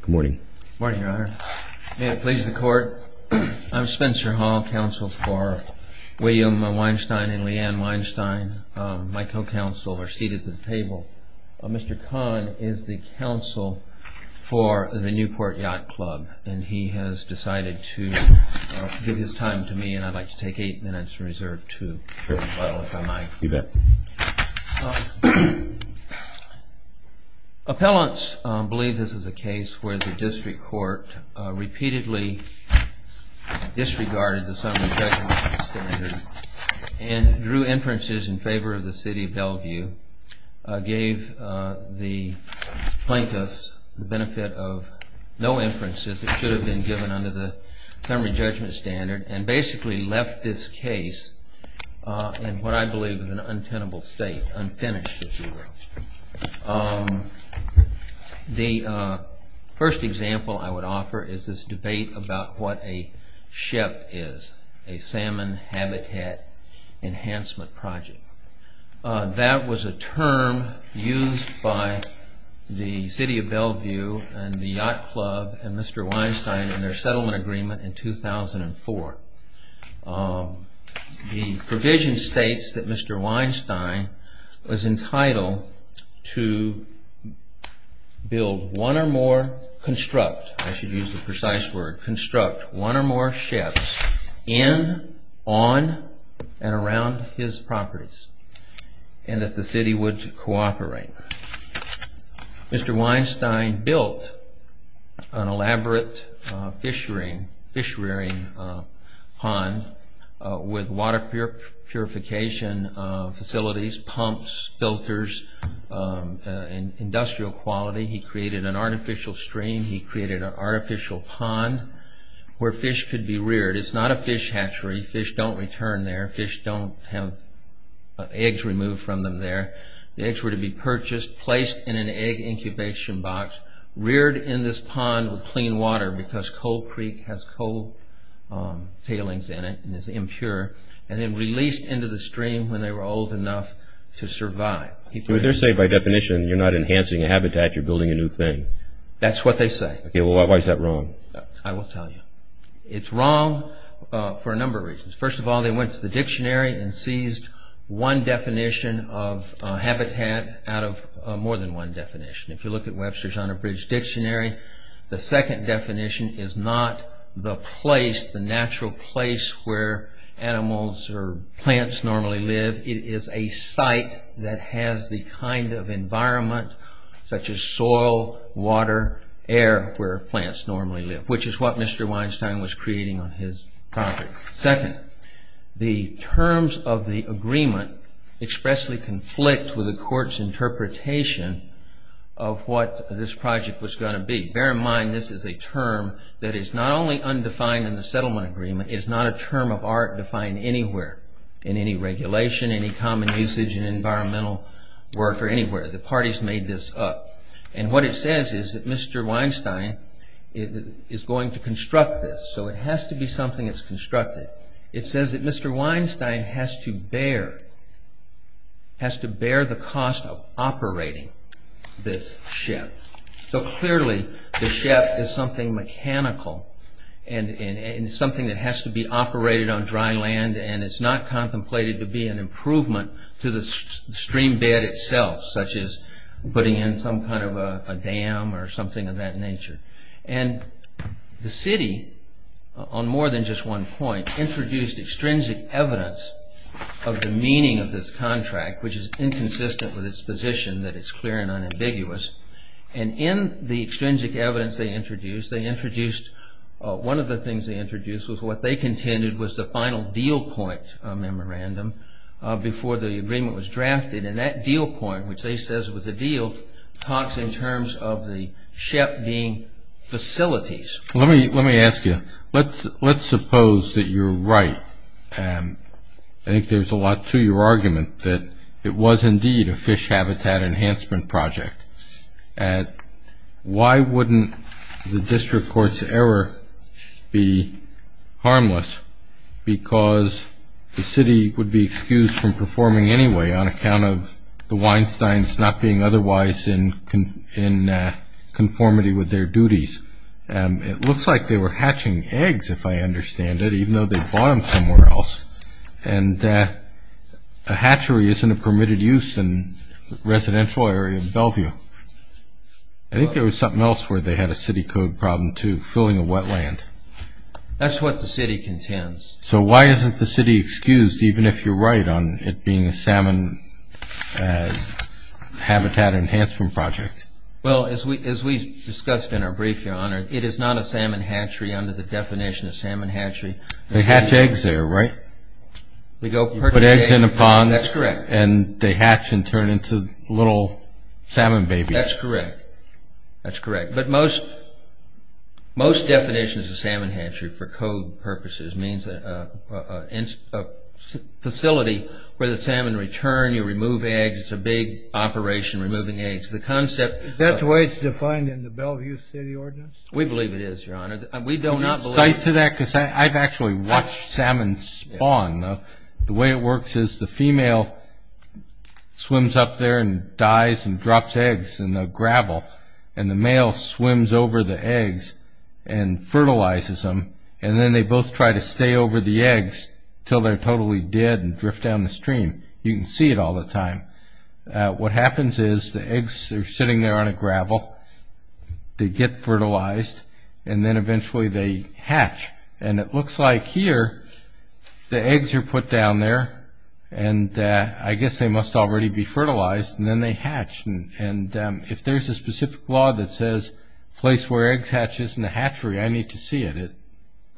Good morning. Good morning, Your Honor. May it please the Court, I'm Spencer Hall, counsel for William Weinstein and Leanne Weinstein. My co-counsel are seated at the table. Mr. Kahn is the counsel for the Newport Yacht Club, and he has decided to give his time to me, and I'd like to take eight minutes to reserve two, if I might. You bet. Appellants believe this is a case where the district court repeatedly disregarded the summary judgment standard and drew inferences in favor of the City of Bellevue, gave the plaintiffs the benefit of no inferences that should have been given under the summary judgment standard, and basically left this case in what I believe is an untenable state, unfinished. The first example I would offer is this debate about what a SHEP is, a Salmon Habitat Enhancement Project. That was a term used by the City of Bellevue and the Yacht Club and Mr. Weinstein in their settlement agreement in 2004. The provision states that Mr. Weinstein was entitled to build one or more SHEPs in, on, and around his properties, and that the City would cooperate. Mr. Weinstein built an elaborate fish rearing pond with water purification facilities, pumps, filters, industrial quality. He created an artificial stream. He created an artificial pond where fish could be reared. It's not a fish hatchery. Fish don't return there. Fish don't have eggs removed from them there. The eggs were to be purchased, placed in an egg incubation box, reared in this pond with clean water, because Coal Creek has coal tailings in it and is impure, and then released into the stream when they were old enough to survive. They're saying by definition you're not enhancing a habitat, you're building a new thing. That's what they say. Why is that wrong? I will tell you. It's wrong for a number of reasons. First of all, they went to the dictionary and seized one definition of habitat out of more than one definition. If you look at Webster's Honor Bridge Dictionary, the second definition is not the natural place where animals or plants normally live. It is a site that has the kind of environment, such as soil, water, air, where plants normally live, which is what Mr. Weinstein was creating on his property. Second, the terms of the agreement expressly conflict with the court's interpretation of what this project was going to be. Bear in mind this is a term that is not only undefined in the settlement agreement, it is not a term of art defined anywhere in any regulation, any common usage in environmental work, or anywhere. The parties made this up. And what it says is that Mr. Weinstein is going to construct this. So it has to be something that's constructed. It says that Mr. Weinstein has to bear the cost of operating this ship. So clearly the ship is something mechanical and something that has to be operated on dry land and it's not contemplated to be an improvement to the stream bed itself, such as putting in some kind of a dam or something of that nature. The city, on more than just one point, introduced extrinsic evidence of the meaning of this contract, which is inconsistent with its position that it's clear and unambiguous. And in the extrinsic evidence they introduced, one of the things they introduced was what they contended was the final deal point memorandum before the agreement was drafted. And that deal point, which they says was a deal, talks in terms of the ship being facilities. Let me ask you, let's suppose that you're right. I think there's a lot to your argument that it was indeed a fish habitat enhancement project. Why wouldn't the district court's error be harmless? Because the city would be excused from performing anyway on account of the Weinsteins not being otherwise in conformity with their duties. It looks like they were hatching eggs, if I understand it, even though they bought them somewhere else. And a hatchery isn't a permitted use in a residential area in Bellevue. I think there was something else where they had a city code problem too, filling a wetland. That's what the city contends. So why isn't the city excused, even if you're right on it being a salmon habitat enhancement project? Well, as we discussed in our brief, Your Honor, it is not a salmon hatchery under the definition of salmon hatchery. They hatch eggs there, right? You put eggs in a pond. That's correct. And they hatch and turn into little salmon babies. That's correct. That's correct. But most definitions of salmon hatchery, for code purposes, means a facility where the salmon return, you remove eggs. It's a big operation, removing eggs. Is that the way it's defined in the Bellevue City Ordinance? We believe it is, Your Honor. Can you cite to that? Because I've actually watched salmon spawn. The way it works is the female swims up there and dies and drops eggs in the gravel, and the male swims over the eggs and fertilizes them, and then they both try to stay over the eggs until they're totally dead and drift down the stream. You can see it all the time. What happens is the eggs are sitting there on a gravel. They get fertilized, and then eventually they hatch. And it looks like here the eggs are put down there, and I guess they must already be fertilized, and then they hatch. And if there's a specific law that says place where eggs hatch is in the hatchery, I need to see it.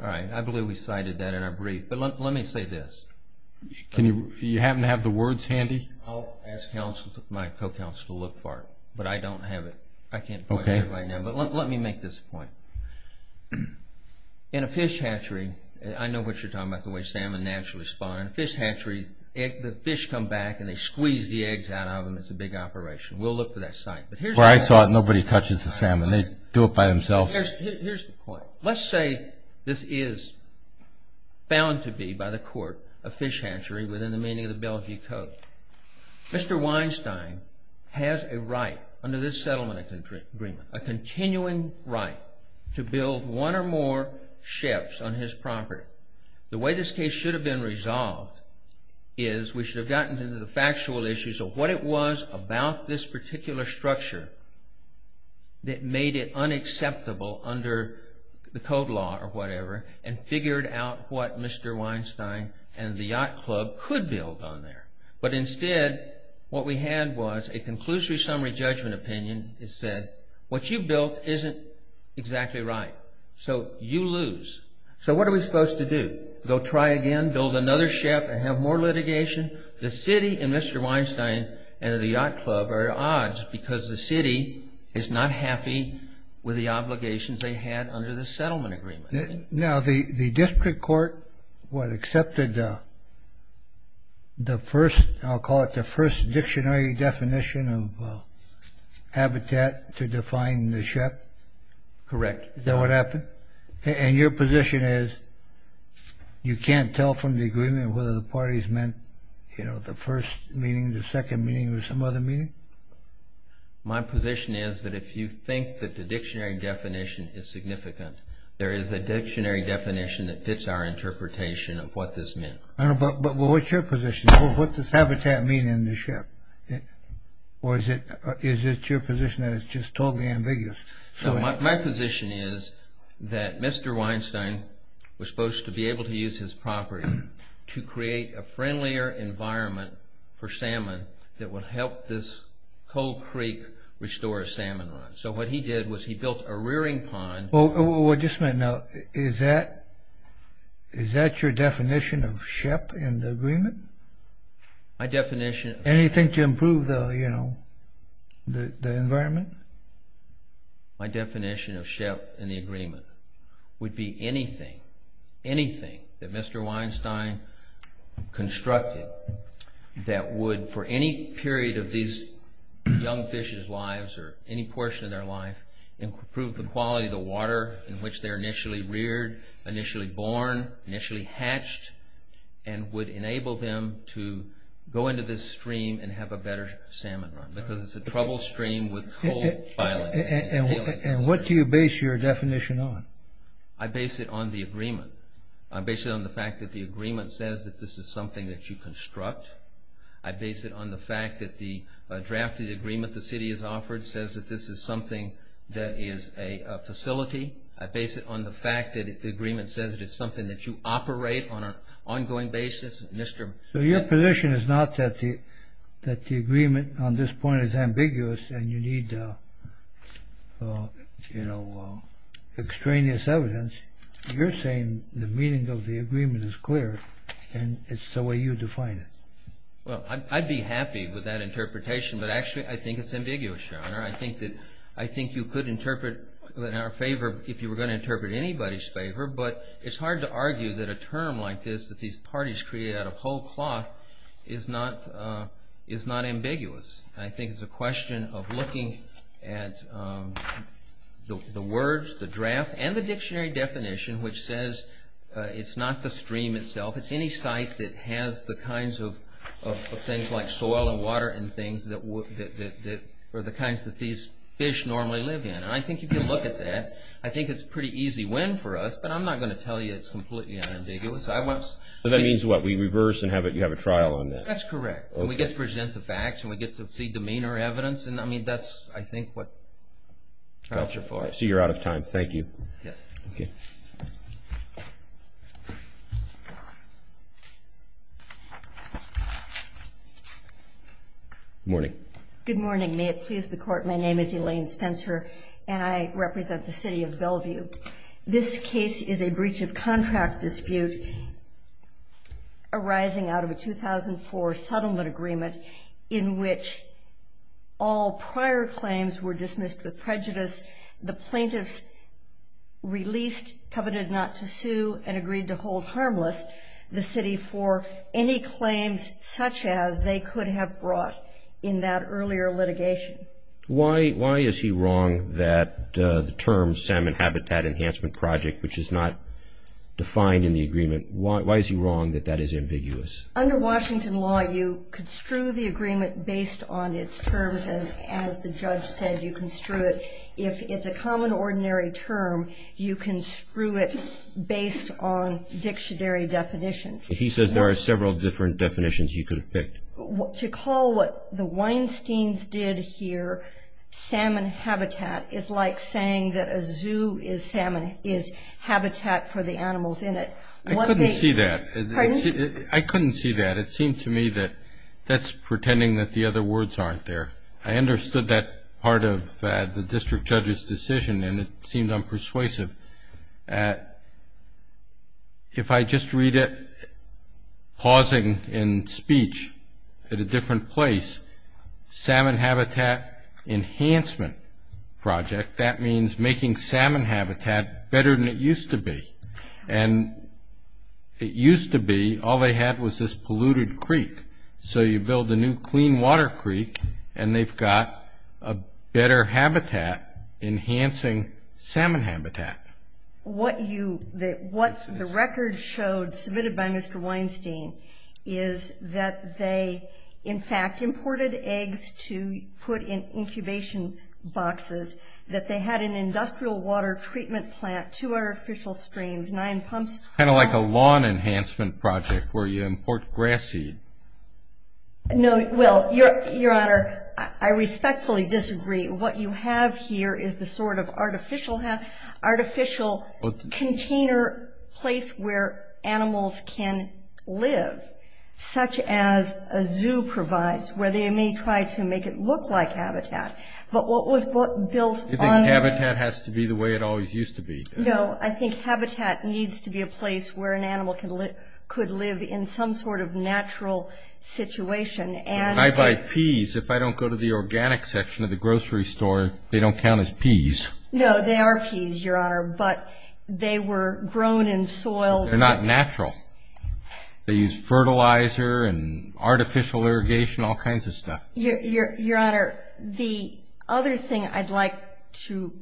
All right. I believe we cited that in our brief. But let me say this. You happen to have the words handy? I'll ask my co-counsel to look for it, but I don't have it. I can't point to it right now, but let me make this point. In a fish hatchery, I know what you're talking about, the way salmon naturally spawn. In a fish hatchery, the fish come back and they squeeze the eggs out of them. It's a big operation. We'll look for that site. Where I saw it, nobody touches the salmon. They do it by themselves. Here's the point. Let's say this is found to be, by the court, a fish hatchery within the meaning of the Belgium Code. Mr. Weinstein has a right under this settlement agreement, a continuing right to build one or more ships on his property. The way this case should have been resolved is we should have gotten into the factual issues of what it was about this particular structure that made it unacceptable under the code law or whatever, and figured out what Mr. Weinstein and the Yacht Club could build on there. But instead, what we had was a conclusory summary judgment opinion that said, what you built isn't exactly right, so you lose. So what are we supposed to do? Go try again, build another ship, and have more litigation? The city and Mr. Weinstein and the Yacht Club are at odds because the city is not happy with the obligations they had under the settlement agreement. Now, the district court, what, accepted the first, I'll call it the first, dictionary definition of habitat to define the ship? Correct. Is that what happened? And your position is you can't tell from the agreement whether the parties meant, you know, the first meaning, the second meaning, or some other meaning? My position is that if you think that the dictionary definition is significant, there is a dictionary definition that fits our interpretation of what this meant. But what's your position? What does habitat mean in the ship? Or is it your position that it's just totally ambiguous? My position is that Mr. Weinstein was supposed to be able to use his property to create a friendlier environment for salmon that would help this cold creek restore a salmon run. So what he did was he built a rearing pond. Well, just a minute now. Is that your definition of ship in the agreement? Anything to improve the, you know, the environment? My definition of ship in the agreement would be anything, anything, that Mr. Weinstein constructed that would, for any period of these young fishes' lives or any portion of their life, improve the quality of the water in which they're initially reared, initially born, initially hatched, and would enable them to go into this stream and have a better salmon run because it's a troubled stream with cold violence. And what do you base your definition on? I base it on the agreement. I base it on the fact that the agreement says that this is something that you construct. I base it on the fact that the draft of the agreement the city has offered says that this is something that is a facility. I base it on the fact that the agreement says it is something that you operate on an ongoing basis. So your position is not that the agreement on this point is ambiguous and you need, you know, extraneous evidence. You're saying the meaning of the agreement is clear and it's the way you define it. Well, I'd be happy with that interpretation, but actually I think it's ambiguous, Your Honor. I think you could interpret in our favor if you were going to interpret in anybody's favor, but it's hard to argue that a term like this that these parties created out of whole cloth is not ambiguous. I think it's a question of looking at the words, the draft, and the dictionary definition which says it's not the stream itself. It's any site that has the kinds of things like soil and water and things that are the kinds that these fish normally live in. And I think if you look at that, I think it's a pretty easy win for us, but I'm not going to tell you it's completely unambiguous. So that means what? We reverse and you have a trial on that? That's correct, and we get to present the facts and we get to see demeanor evidence, and I mean that's, I think, what counts. I see you're out of time. Thank you. Good morning. Good morning. May it please the Court, my name is Elaine Spencer, and I represent the city of Bellevue. This case is a breach of contract dispute arising out of a 2004 settlement agreement in which all prior claims were dismissed with prejudice. The plaintiffs released, coveted not to sue, and agreed to hold harmless the city for any claims such as they could have brought in that earlier litigation. Why is he wrong that the term Salmon Habitat Enhancement Project, which is not defined in the agreement, why is he wrong that that is ambiguous? Under Washington law, you construe the agreement based on its terms, and as the judge said, you construe it. If it's a common, ordinary term, you construe it based on dictionary definitions. To call what the Weinsteins did here Salmon Habitat is like saying that a zoo is salmon, is habitat for the animals in it. I couldn't see that. Pardon? I couldn't see that. It seemed to me that that's pretending that the other words aren't there. I understood that part of the district judge's decision, and it seemed unpersuasive. If I just read it pausing in speech at a different place, Salmon Habitat Enhancement Project, that means making salmon habitat better than it used to be. And it used to be all they had was this polluted creek. So you build a new clean water creek, and they've got a better habitat enhancing salmon habitat. What the record showed, submitted by Mr. Weinstein, is that they, in fact, imported eggs to put in incubation boxes, that they had an industrial water treatment plant, two artificial streams, nine pumps. It's kind of like a lawn enhancement project where you import grass seed. No, well, Your Honor, I respectfully disagree. What you have here is the sort of artificial container place where animals can live, such as a zoo provides, where they may try to make it look like habitat. But what was built on- You think habitat has to be the way it always used to be? No, I think habitat needs to be a place where an animal could live in some sort of natural situation. When I buy peas, if I don't go to the organic section of the grocery store, they don't count as peas. No, they are peas, Your Honor, but they were grown in soil. But they're not natural. They use fertilizer and artificial irrigation, all kinds of stuff. Your Honor, the other thing I'd like to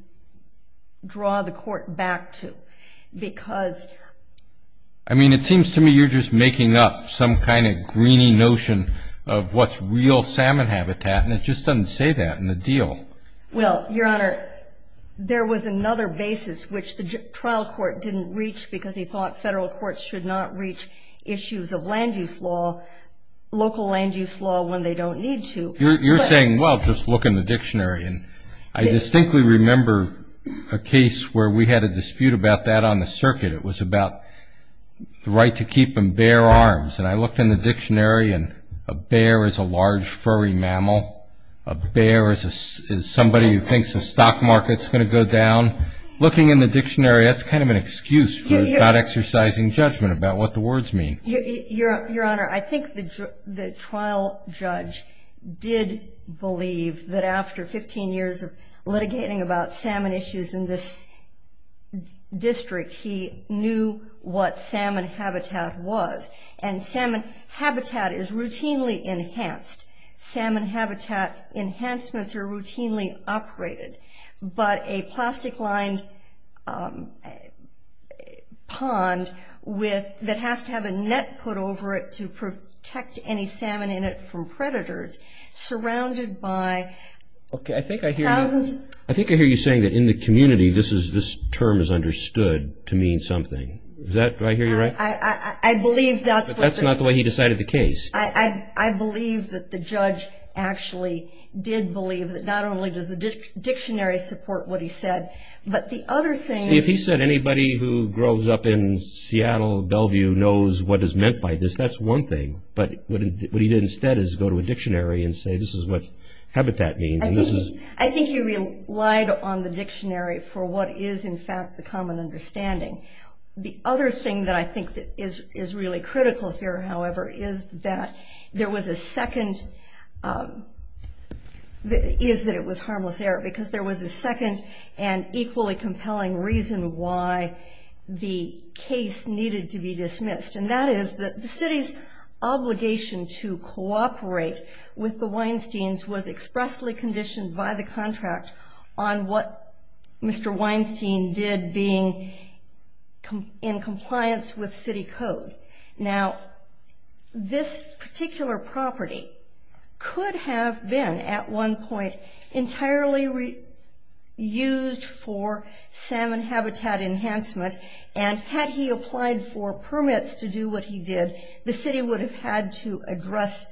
draw the Court back to, because- I mean, it seems to me you're just making up some kind of greeny notion of what's real salmon habitat, and it just doesn't say that in the deal. Well, Your Honor, there was another basis which the trial court didn't reach because he thought federal courts should not reach issues of land use law, local land use law, when they don't need to. You're saying, well, just look in the dictionary. I distinctly remember a case where we had a dispute about that on the circuit. It was about the right to keep and bear arms. And I looked in the dictionary, and a bear is a large, furry mammal. A bear is somebody who thinks the stock market's going to go down. Looking in the dictionary, that's kind of an excuse for not exercising judgment about what the words mean. Your Honor, I think the trial judge did believe that after 15 years of litigating about salmon issues in this district, he knew what salmon habitat was. And salmon habitat is routinely enhanced. Salmon habitat enhancements are routinely operated. But a plastic-lined pond that has to have a net put over it to protect any salmon in it from predators, surrounded by thousands of... I think I hear you saying that in the community, this term is understood to mean something. Do I hear you right? I believe that's what the... But that's not the way he decided the case. I believe that the judge actually did believe that not only does the dictionary support what he said, but the other thing... See, if he said anybody who grows up in Seattle, Bellevue, knows what is meant by this, that's one thing. But what he did instead is go to a dictionary and say, this is what habitat means, and this is... I think he relied on the dictionary for what is, in fact, the common understanding. The other thing that I think is really critical here, however, is that there was a second... Is that it was harmless error. Because there was a second and equally compelling reason why the case needed to be dismissed. And that is that the city's obligation to cooperate with the Weinsteins was expressly conditioned by the contract on what Mr. Weinstein did being in compliance with city code. Now, this particular property could have been, at one point, entirely used for salmon habitat enhancement. And had he applied for permits to do what he did, the city would have had to address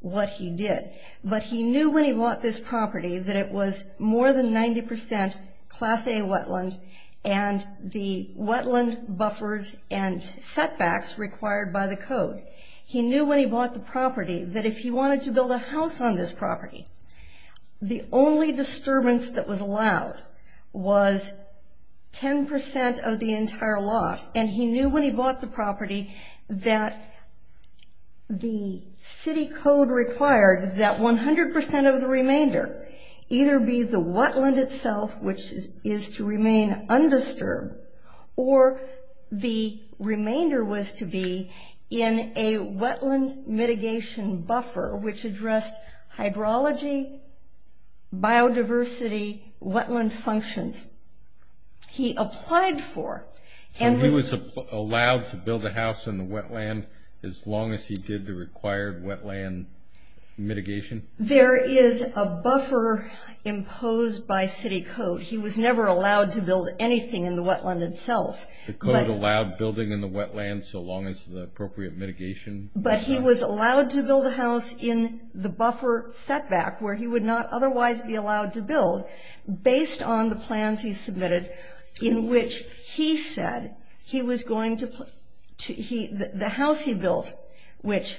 what he did. But he knew when he bought this property that it was more than 90% Class A wetland, and the wetland buffers and setbacks required by the code. He knew when he bought the property that if he wanted to build a house on this property, the only disturbance that was allowed was 10% of the entire lot. And he knew when he bought the property that the city code required that 100% of the remainder either be the wetland itself, which is to remain undisturbed, or the remainder was to be in a wetland mitigation buffer, which addressed hydrology, biodiversity, wetland functions. He applied for... So he was allowed to build a house in the wetland as long as he did the required wetland mitigation? There is a buffer imposed by city code. He was never allowed to build anything in the wetland itself. The code allowed building in the wetland so long as the appropriate mitigation... But he was allowed to build a house in the buffer setback, where he would not otherwise be allowed to build, based on the plans he submitted in which he said he was going to... The house he built, which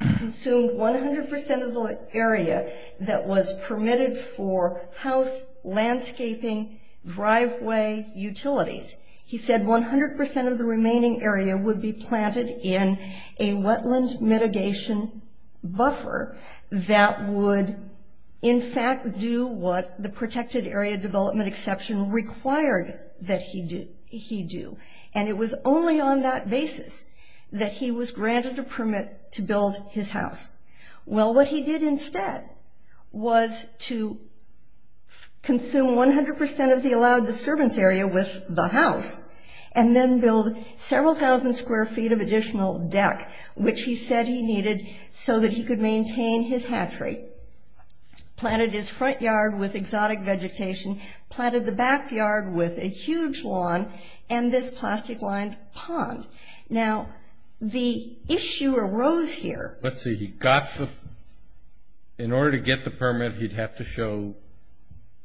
consumed 100% of the area that was permitted for house, landscaping, driveway, utilities. He said 100% of the remaining area would be planted in a wetland mitigation buffer that would, in fact, do what the protected area development exception required that he do. And it was only on that basis that he was granted a permit to build his house. Well, what he did instead was to consume 100% of the allowed disturbance area with the house and then build several thousand square feet of additional deck, which he said he needed so that he could maintain his hatchery. Planted his front yard with exotic vegetation. Planted the backyard with a huge lawn and this plastic-lined pond. Now, the issue arose here. Let's see. He got the... In order to get the permit, he'd have to show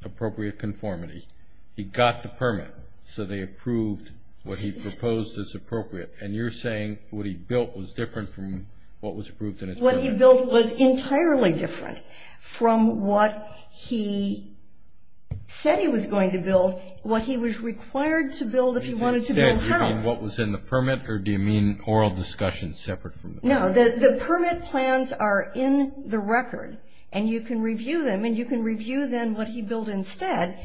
appropriate conformity. He got the permit, so they approved what he proposed as appropriate. And you're saying what he built was different from what was approved in his permit? What he built was entirely different from what he said he was going to build, what he was required to build if he wanted to build a house. You mean what was in the permit, or do you mean oral discussions separate from the permit? No, the permit plans are in the record, and you can review them, and you can review then what he built instead.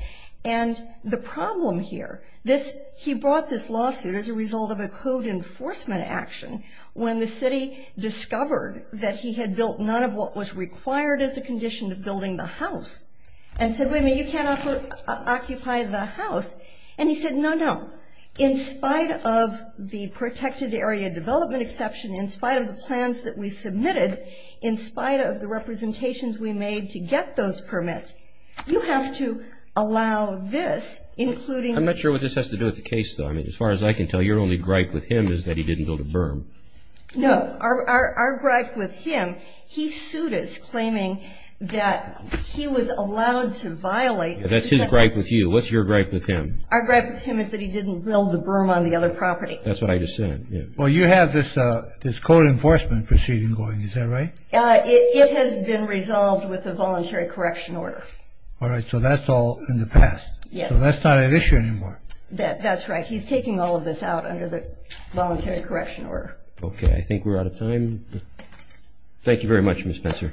And the problem here, he brought this lawsuit as a result of a code enforcement action when the city discovered that he had built none of what was required as a condition of building the house and said, wait a minute, you can't occupy the house. And he said, no, no. In spite of the protected area development exception, in spite of the plans that we submitted, in spite of the representations we made to get those permits, you have to allow this, including... I'm not sure what this has to do with the case, though. As far as I can tell, your only gripe with him is that he didn't build a berm. No. Our gripe with him, he sued us claiming that he was allowed to violate... That's his gripe with you. What's your gripe with him? Our gripe with him is that he didn't build a berm on the other property. That's what I just said. Well, you have this code enforcement proceeding going, is that right? It has been resolved with a voluntary correction order. All right. So that's all in the past. Yes. So that's not an issue anymore. That's right. He's taking all of this out under the voluntary correction order. Okay. I think we're out of time. Thank you very much, Ms. Spencer.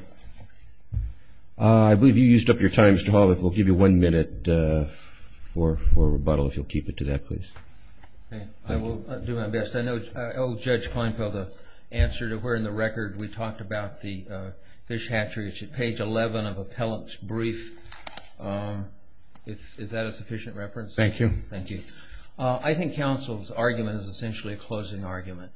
I believe you used up your time, Mr. Hawley. We'll give you one minute for rebuttal if you'll keep it to that, please. I will do my best. I owe Judge Kleinfeld an answer to where in the record we talked about the fish hatchery. It's at page 11 of Appellant's brief. Is that a sufficient reference? Thank you. Thank you. I think counsel's argument is essentially a closing argument.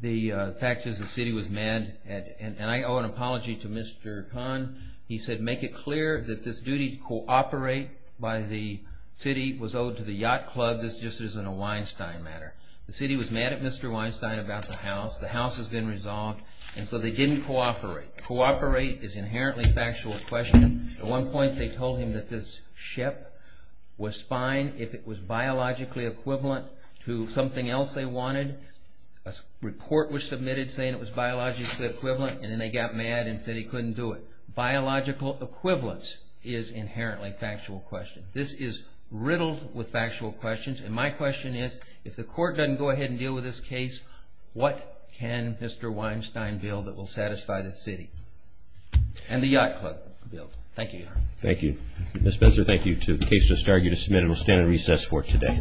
The fact is the city was mad, and I owe an apology to Mr. Kahn. He said, make it clear that this duty to cooperate by the city was owed to the Yacht Club. This just isn't a Weinstein matter. The city was mad at Mr. Weinstein about the house. The house has been resolved, and so they didn't cooperate. Cooperate is inherently factual question. At one point they told him that this ship was fine if it was biologically equivalent to something else they wanted. A report was submitted saying it was biologically equivalent, and then they got mad and said he couldn't do it. Biological equivalence is inherently factual question. This is riddled with factual questions. My question is, if the court doesn't go ahead and deal with this case, what can Mr. Weinstein build that will satisfy the city? And the Yacht Club build. Thank you, Your Honor. Thank you. Ms. Spencer, thank you, too. The case just argued is submitted. We'll stand at recess for today.